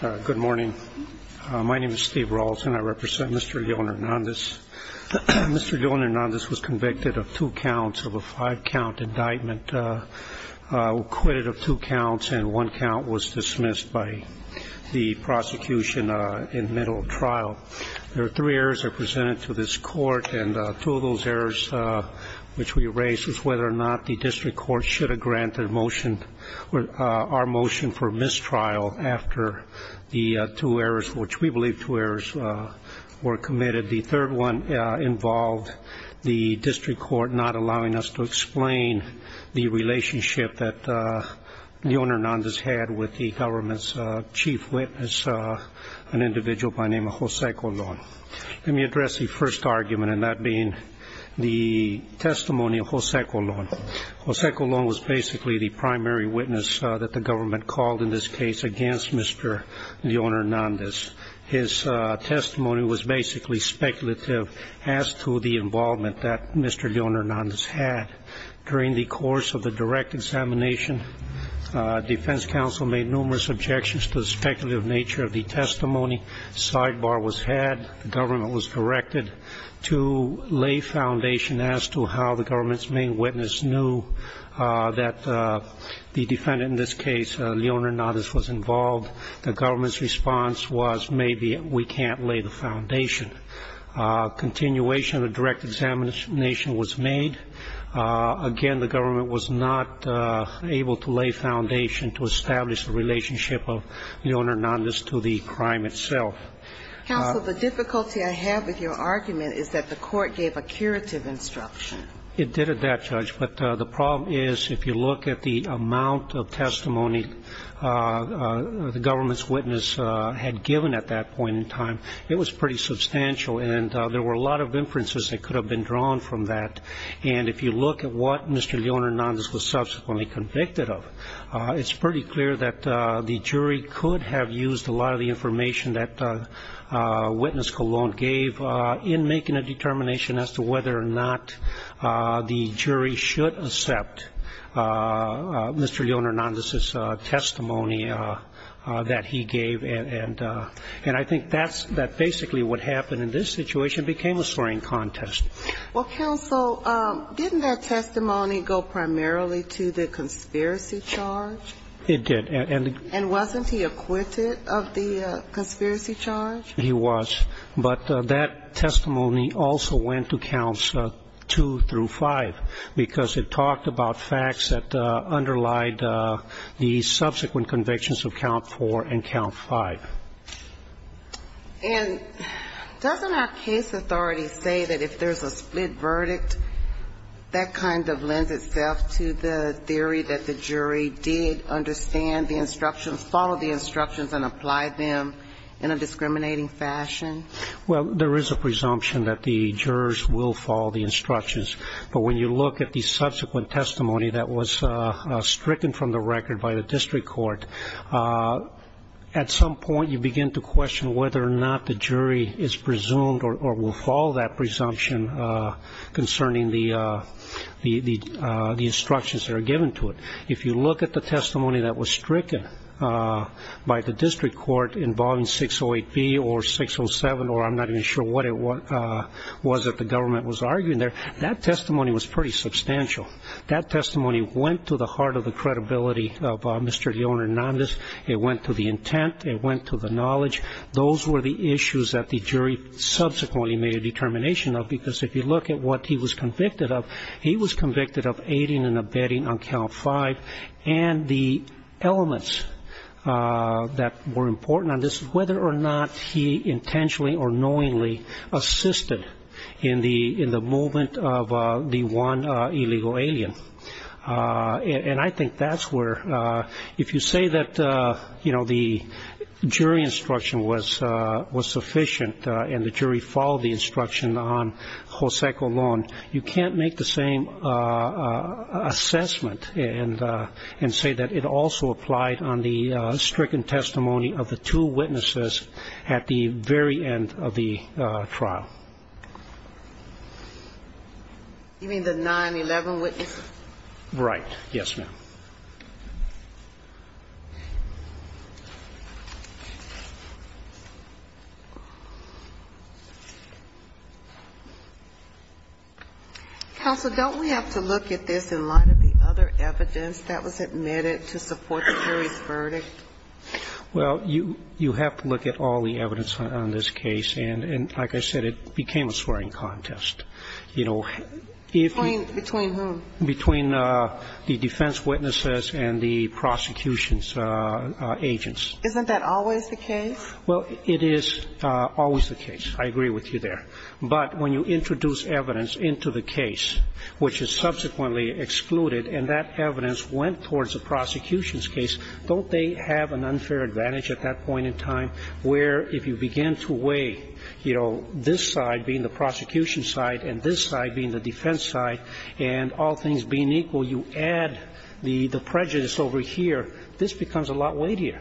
Good morning. My name is Steve Rawls and I represent Mr. Leon-Hernandez. Mr. Leon-Hernandez was convicted of two counts of a five-count indictment, acquitted of two counts, and one count was dismissed by the prosecution in the middle of trial. There were three errors that were presented to this court, and two of those errors, which we erased, this is whether or not the district court should have granted our motion for mistrial after the two errors, which we believe two errors were committed. The third one involved the district court not allowing us to explain the relationship that Leon-Hernandez had with the government's chief witness, an individual by the name of Jose Colon. Let me address the first argument, and that being the testimony of Jose Colon. Jose Colon was basically the primary witness that the government called in this case against Mr. Leon-Hernandez. His testimony was basically speculative as to the involvement that Mr. Leon-Hernandez had. During the course of the direct examination, defense counsel made numerous objections to the speculative nature of the testimony. Sidebar was had. The government was directed to lay foundation as to how the government's main witness knew that the defendant in this case, Leon-Hernandez, was involved. The government's response was maybe we can't lay the foundation. Continuation of the direct examination was made. Again, the government was not able to lay foundation to establish the relationship of Leon-Hernandez to the crime itself. Counsel, the difficulty I have with your argument is that the court gave a curative instruction. It did at that, Judge. But the problem is if you look at the amount of testimony the government's witness had given at that point in time, it was pretty substantial. And there were a lot of inferences that could have been drawn from that. And if you look at what Mr. Leon-Hernandez was subsequently convicted of, it's pretty clear that the jury could have used a lot of the information that witness Colon gave in making a determination as to whether or not the jury should accept Mr. Leon-Hernandez's testimony that he gave. And I think that basically what happened in this situation became a swearing contest. Well, counsel, didn't that testimony go primarily to the conspiracy charge? It did. And wasn't he acquitted of the conspiracy charge? He was. But that testimony also went to counts two through five, because it talked about facts that underlied the subsequent convictions of count four and count five. And doesn't our case authority say that if there's a split verdict, that kind of lends itself to the theory that the jury did understand the instructions, followed the instructions and applied them in a discriminating fashion? Well, there is a presumption that the jurors will follow the instructions. But when you look at the subsequent testimony that was stricken from the record by the district court, at some point you begin to question whether or not the jury is presumed or will follow that presumption concerning the instructions that are given to it. If you look at the testimony that was stricken by the district court involving 608B or 607, or I'm not even sure what it was that the government was arguing there, that testimony was pretty substantial. That testimony went to the heart of the credibility of Mr. Leone Hernandez. It went to the intent. It went to the knowledge. Those were the issues that the jury subsequently made a determination of, because if you look at what he was convicted of, he was convicted of aiding and abetting on count five. And the elements that were important on this is whether or not he intentionally or knowingly assisted in the movement of the one illegal alien. And I think that's where, if you say that the jury instruction was sufficient and the jury followed the instruction on Jose Colón, you can't make the same assessment and say that it also applied on the stricken testimony of the two witnesses at the very end of the trial. You mean the 9-11 witnesses? Right. Yes, ma'am. Counsel, don't we have to look at this in light of the other evidence that was admitted to support the jury's verdict? Well, you have to look at all the evidence on this case. And like I said, it became a swearing contest. Between whom? Between the defense witnesses and the prosecution's agents. Isn't that always the case? Well, it is always the case. I agree with you there. But when you introduce evidence into the case which is subsequently excluded and that evidence went towards the prosecution's case, don't they have an unfair advantage at that point in time where if you begin to weigh, you know, this side being the prosecution's side and this side being the defense's side and all things being equal, you add the prejudice over here, this becomes a lot weightier.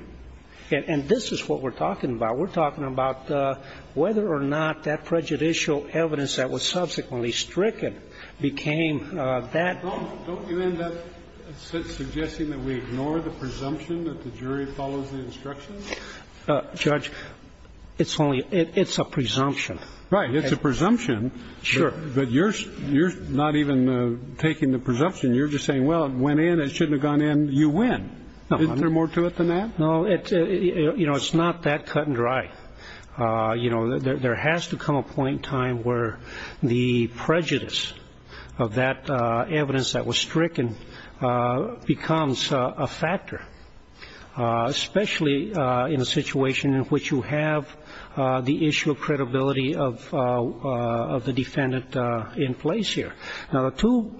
And this is what we're talking about. We're talking about whether or not that prejudicial evidence that was subsequently stricken became that. Don't you end up suggesting that we ignore the presumption that the jury follows the instructions? Judge, it's only ‑‑ it's a presumption. Right. It's a presumption. Sure. But you're not even taking the presumption. You're just saying, well, it went in. It shouldn't have gone in. You win. Isn't there more to it than that? No. You know, it's not that cut and dry. You know, there has to come a point in time where the prejudice of that evidence that was stricken becomes a factor, especially in a situation in which you have the issue of credibility of the defendant in place here. Now, the two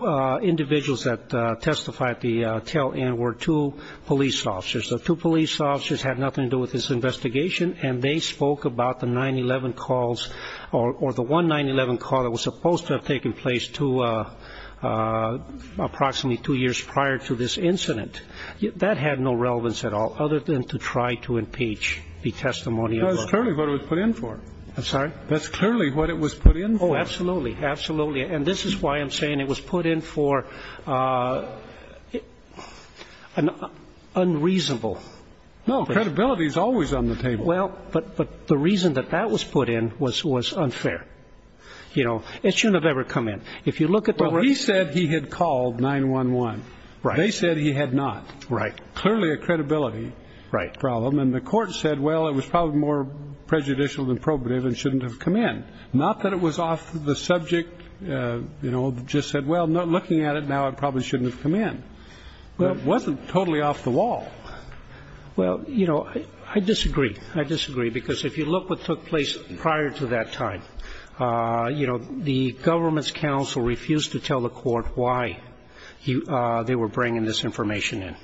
individuals that testified at the tail end were two police officers. The two police officers had nothing to do with this investigation, and they spoke about the 9-11 calls or the one 9-11 call that was supposed to have taken place approximately two years prior to this incident. That had no relevance at all other than to try to impeach the testimony of the ‑‑ That's clearly what it was put in for. I'm sorry? That's clearly what it was put in for. Oh, absolutely. Absolutely. And this is why I'm saying it was put in for an unreasonable ‑‑ No, credibility is always on the table. Well, but the reason that that was put in was unfair. You know, it shouldn't have ever come in. If you look at the ‑‑ Well, he said he had called 9-11. Right. They said he had not. Right. Clearly a credibility problem. Right. And the court said, well, it was probably more prejudicial than probative and shouldn't have come in. Not that it was off the subject. You know, just said, well, looking at it now, it probably shouldn't have come in. It wasn't totally off the wall. Well, you know, I disagree. I disagree. Because if you look what took place prior to that time, you know, the government's counsel refused to tell the court why they were bringing this information in.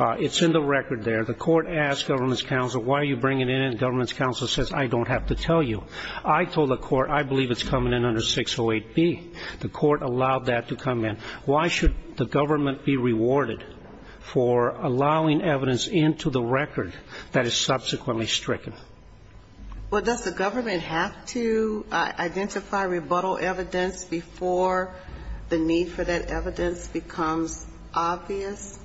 It's in the record there. The court asked government's counsel, why are you bringing it in, and government's counsel says, I don't have to tell you. I told the court, I believe it's coming in under 608B. The court allowed that to come in. Why should the government be rewarded for allowing evidence into the record that is subsequently stricken? Well, does the government have to identify rebuttal evidence before the need for that evidence becomes obvious?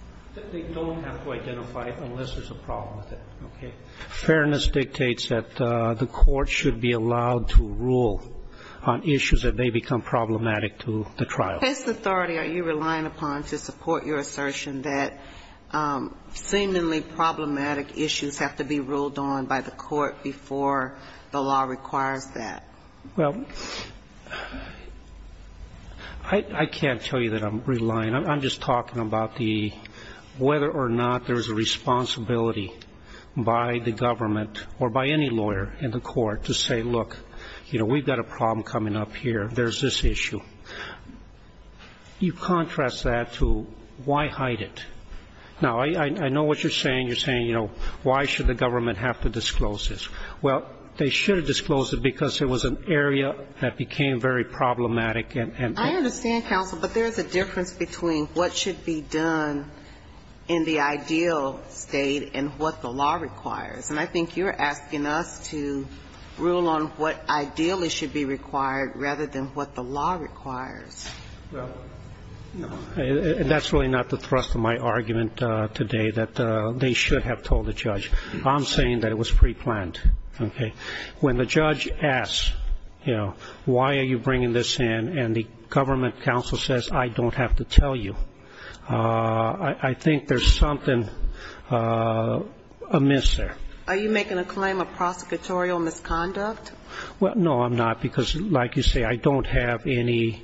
They don't have to identify it unless there's a problem with it. Okay. Fairness dictates that the court should be allowed to rule on issues that may become problematic to the trial. This authority, are you relying upon to support your assertion that seemingly problematic issues have to be ruled on by the court before the law requires that? Well, I can't tell you that I'm relying. I'm just talking about the whether or not there's a responsibility by the government or by any lawyer in the court to say, look, you know, we've got a problem coming up here. There's this issue. You contrast that to why hide it. Now, I know what you're saying. You're saying, you know, why should the government have to disclose this? Well, they should have disclosed it because it was an area that became very problematic and... I understand, counsel, but there's a difference between what should be done in the ideal State and what the law requires. And I think you're asking us to rule on what ideally should be required rather than what the law requires. Well, that's really not the thrust of my argument today, that they should have told the judge. I'm saying that it was preplanned. Okay. When the judge asks, you know, why are you bringing this in, and the government counsel says, I don't have to tell you, I think there's something amiss there. Are you making a claim of prosecutorial misconduct? Well, no, I'm not, because like you say, I don't have any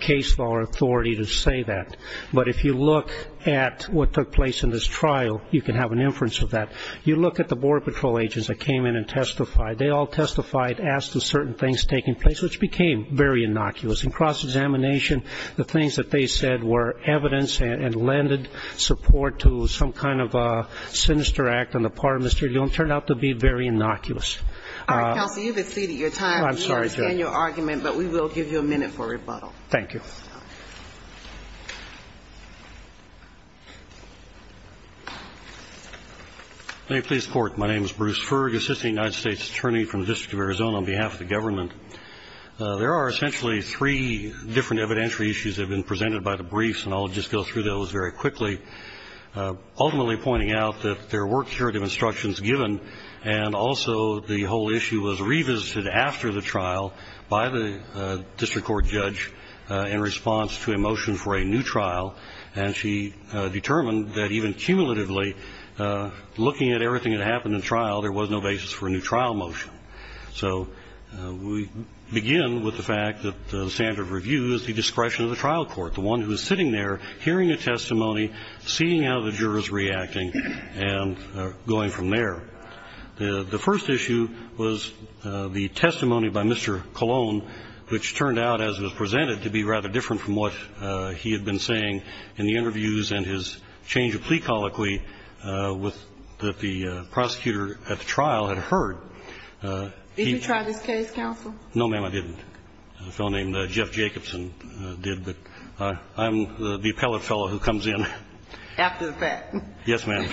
case law or authority to say that. But if you look at what took place in this trial, you can have an inference of that. You look at the Border Patrol agents that came in and testified. They all testified, asked for certain things taking place, which became very innocuous. In cross-examination, the things that they said were evidence and lended support to some kind of a sinister act on the part of Mr. Dillon turned out to be very innocuous. All right, counsel, you've exceeded your time. I'm sorry, Judge. We understand your argument, but we will give you a minute for rebuttal. Thank you. May it please the Court. My name is Bruce Ferg, assistant United States attorney from the District of Arizona on behalf of the government. There are essentially three different evidentiary issues that have been presented by the briefs, and I'll just go through those very quickly, ultimately pointing out that there were curative instructions given, and also the whole issue was revisited after the trial by the district court judge in response to a motion for a new trial, and she determined that even cumulatively, looking at everything that happened in the trial, there was no basis for a new trial motion. So we begin with the fact that the standard of review is the discretion of the trial court, the one who is sitting there hearing a testimony, seeing how the jurors reacting, and going from there. The first issue was the testimony by Mr. Colon, which turned out, as was presented, to be rather different from what he had been saying in the interviews and his change of plea colloquy that the prosecutor at the trial had heard. Did you try this case, counsel? No, ma'am, I didn't. A fellow named Jeff Jacobson did, but I'm the appellate fellow who comes in. After the fact. Yes, ma'am.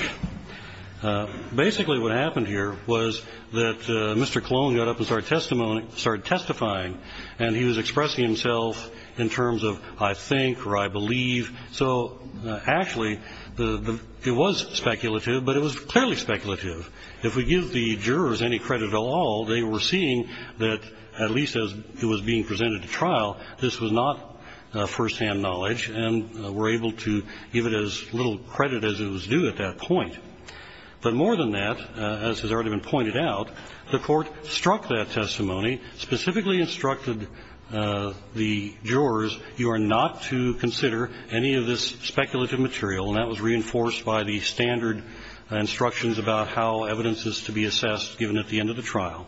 Basically what happened here was that Mr. Colon got up and started testifying, and he was expressing himself in terms of I think or I believe. So, actually, it was speculative, but it was clearly speculative. If we give the jurors any credit at all, they were seeing that, at least as it was being presented to trial, this was not firsthand knowledge, and were able to give it as little credit as it was due at that point. But more than that, as has already been pointed out, the Court struck that testimony, specifically instructed the jurors, you are not to consider any of this speculative material. And that was reinforced by the standard instructions about how evidence is to be assessed given at the end of the trial.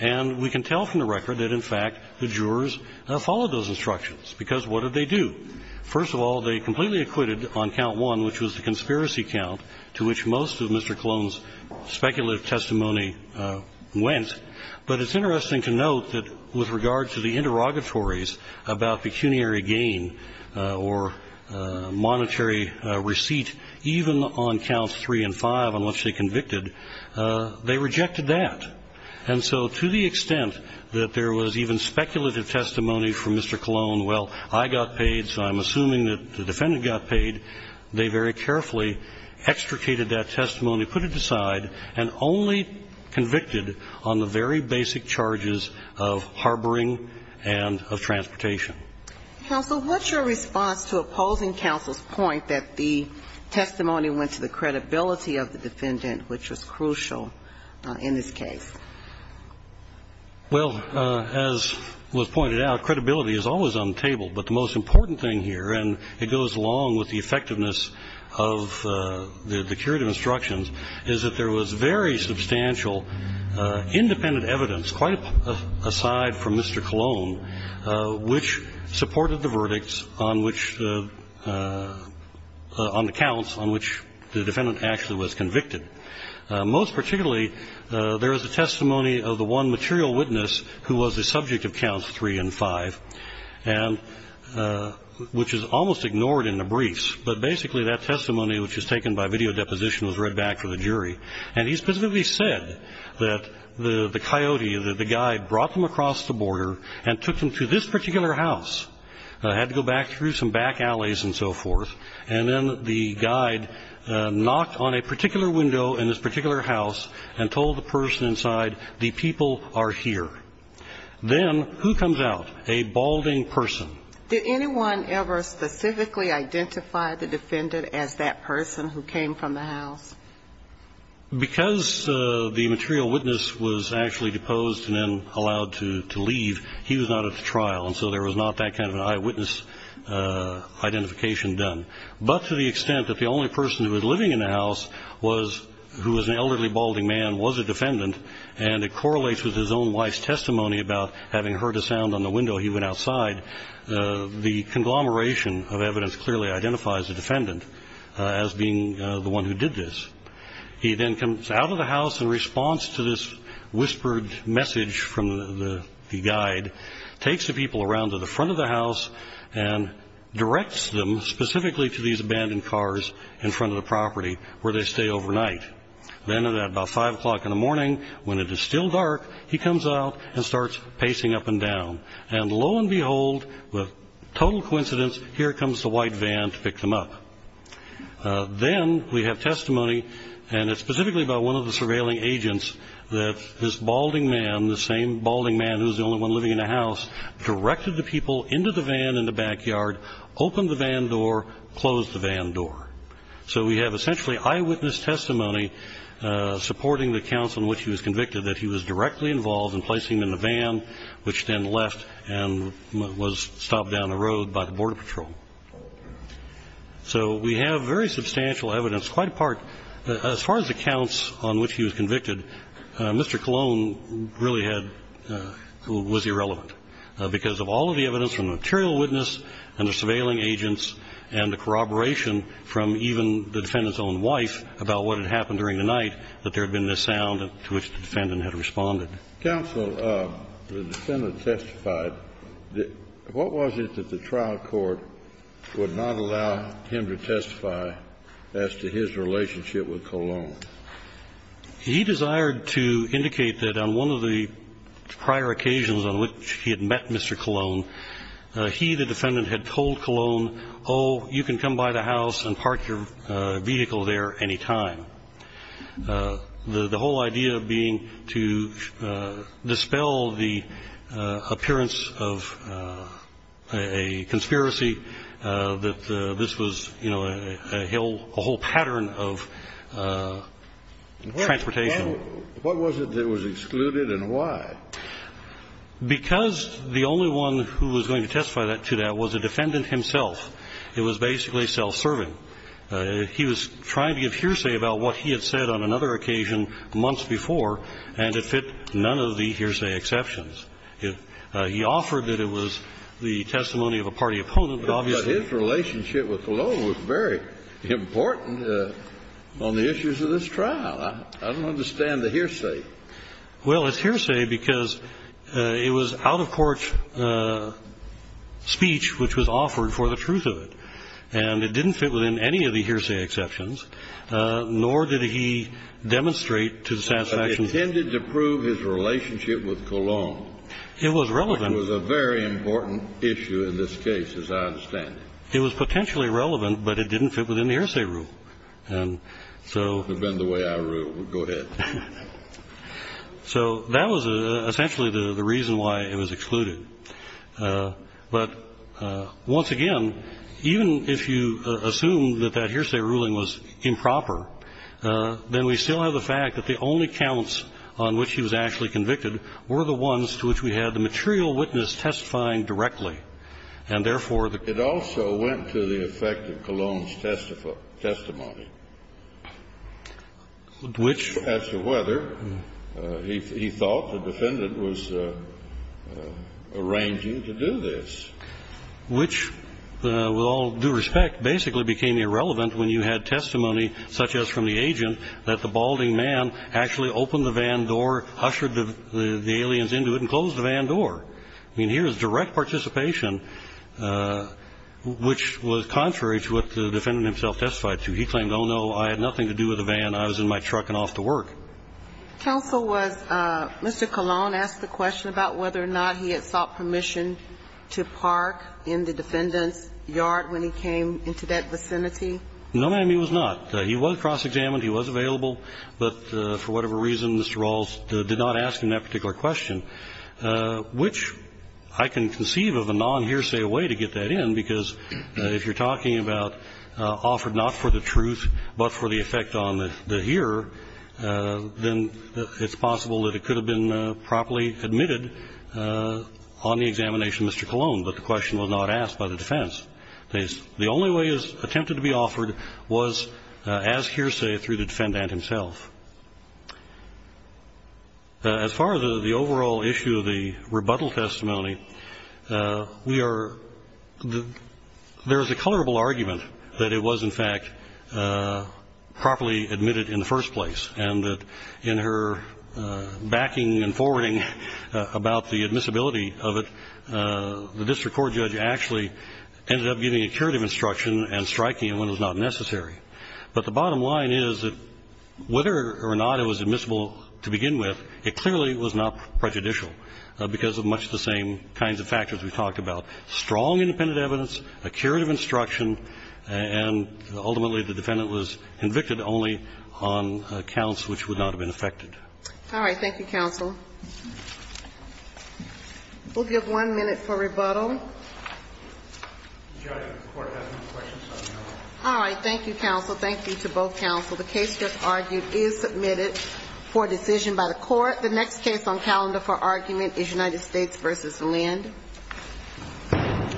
And we can tell from the record that, in fact, the jurors followed those instructions, because what did they do? First of all, they completely acquitted on count one, which was the conspiracy count, to which most of Mr. Colon's speculative testimony went. But it's interesting to note that with regard to the interrogatories about pecuniary gain or monetary receipt, even on counts three and five, on which they convicted, they rejected that. And so to the extent that there was even speculative testimony from Mr. Colon, well, I got paid, so I'm assuming that the defendant got paid, they very carefully extricated that testimony, put it aside, and only convicted on the very basic charges of harboring and of transportation. Counsel, what's your response to opposing counsel's point that the testimony went to the credibility of the defendant, which was crucial in this case? Well, as was pointed out, credibility is always on the table. But the most important thing here, and it goes along with the effectiveness of the curative instructions, is that there was very substantial independent evidence, quite aside from Mr. Colon, which supported the verdicts on which the ‑‑ on the counts on which the defendant actually was convicted. Most particularly, there is a testimony of the one material witness who was the subject of counts three and five, and which is almost ignored in the briefs. But basically that testimony, which is taken by video deposition, was read back for the jury. And he specifically said that the coyote, that the guy brought them across the border and took them to this particular house. Had to go back through some back alleys and so forth. And then the guide knocked on a particular window in this particular house and told the person inside, the people are here. Then who comes out? A balding person. Did anyone ever specifically identify the defendant as that person who came from the house? Because the material witness was actually deposed and then allowed to leave, he was not at the trial. And so there was not that kind of an eyewitness identification done. But to the extent that the only person who was living in the house who was an elderly balding man was a defendant, and it correlates with his own wife's testimony about having heard a sound on the window he went outside, the conglomeration of evidence clearly identifies the defendant as being the one who did this. He then comes out of the house in response to this whispered message from the guide, takes the people around to the front of the house and directs them specifically to these abandoned cars in front of the property where they stay overnight. Then at about 5 o'clock in the morning, when it is still dark, he comes out and starts pacing up and down. And lo and behold, with total coincidence, here comes the white van to pick them up. Then we have testimony, and it's specifically about one of the surveilling agents, that this balding man, the same balding man who was the only one living in the house, directed the people into the van in the backyard, opened the van door, closed the van door. So we have essentially eyewitness testimony supporting the counts on which he was convicted, that he was directly involved in placing them in the van, which then left and was stopped down the road by the border patrol. So we have very substantial evidence. It's quite a part. As far as the counts on which he was convicted, Mr. Colon really had to be irrelevant because of all of the evidence from the material witness and the surveilling agents and the corroboration from even the defendant's own wife about what had happened during the night, that there had been this sound to which the defendant had responded. Kennedy. Counsel, the defendant testified. What was it that the trial court would not allow him to testify as to his relationship with Colon? He desired to indicate that on one of the prior occasions on which he had met Mr. Colon, he, the defendant, had told Colon, oh, you can come by the house and park your vehicle there any time. The whole idea being to dispel the appearance of a conspiracy, that this was, you know, a whole pattern of transportation. What was it that was excluded and why? Because the only one who was going to testify to that was the defendant himself. It was basically self-serving. He was trying to give hearsay about what he had said on another occasion months before, and it fit none of the hearsay exceptions. He offered that it was the testimony of a party opponent, but obviously he was not going to testify. But his relationship with Colon was very important on the issues of this trial. I don't understand the hearsay. Well, it's hearsay because it was out-of-court speech which was offered for the truth of it. And it didn't fit within any of the hearsay exceptions, nor did he demonstrate to the satisfaction of the defense. But he intended to prove his relationship with Colon. It was relevant. It was a very important issue in this case, as I understand it. It was potentially relevant, but it didn't fit within the hearsay rule. And so. It would have been the way I ruled. Go ahead. So that was essentially the reason why it was excluded. But once again, even if you assume that that hearsay ruling was improper, then we still have the fact that the only counts on which he was actually convicted were the ones to which we had the material witness testifying directly. And therefore, the. It also went to the effect of Colon's testimony. Which. As to whether he thought the defendant was arranging to do this. Which, with all due respect, basically became irrelevant when you had testimony such as from the agent that the balding man actually opened the van door, ushered the aliens into it, and closed the van door. I mean, here is direct participation, which was contrary to what the defendant himself testified to. He claimed, oh, no, I had nothing to do with the van. I was in my truck and off to work. Counsel was. Mr. Colon asked the question about whether or not he had sought permission to park in the defendant's yard when he came into that vicinity. No, ma'am, he was not. He was cross-examined. He was available. But for whatever reason, Mr. Rawls did not ask him that particular question, which I can conceive of a nonhearsay way to get that in, because if you're talking about offered not for the truth but for the effect on the hearer, then it's possible that it could have been properly admitted on the examination of Mr. Colon, but the question was not asked by the defense. The only way it was attempted to be offered was as hearsay through the defendant himself. As far as the overall issue of the rebuttal testimony, we are the – there is a colorable argument that it was, in fact, properly admitted in the first place and that in her backing and forwarding about the admissibility of it, the district court judge actually ended up giving a curative instruction and striking it when it was not necessary. But the bottom line is that whether or not it was admissible to begin with, it clearly was not prejudicial because of much the same kinds of factors we've talked about, strong independent evidence, a curative instruction, and ultimately the defendant was convicted only on counts which would not have been affected. All right. Thank you, counsel. We'll give one minute for rebuttal. All right. Thank you, counsel. Thank you to both counsel. The case just argued is submitted for decision by the Court. The next case on calendar for argument is United States v. Lind. Thank you.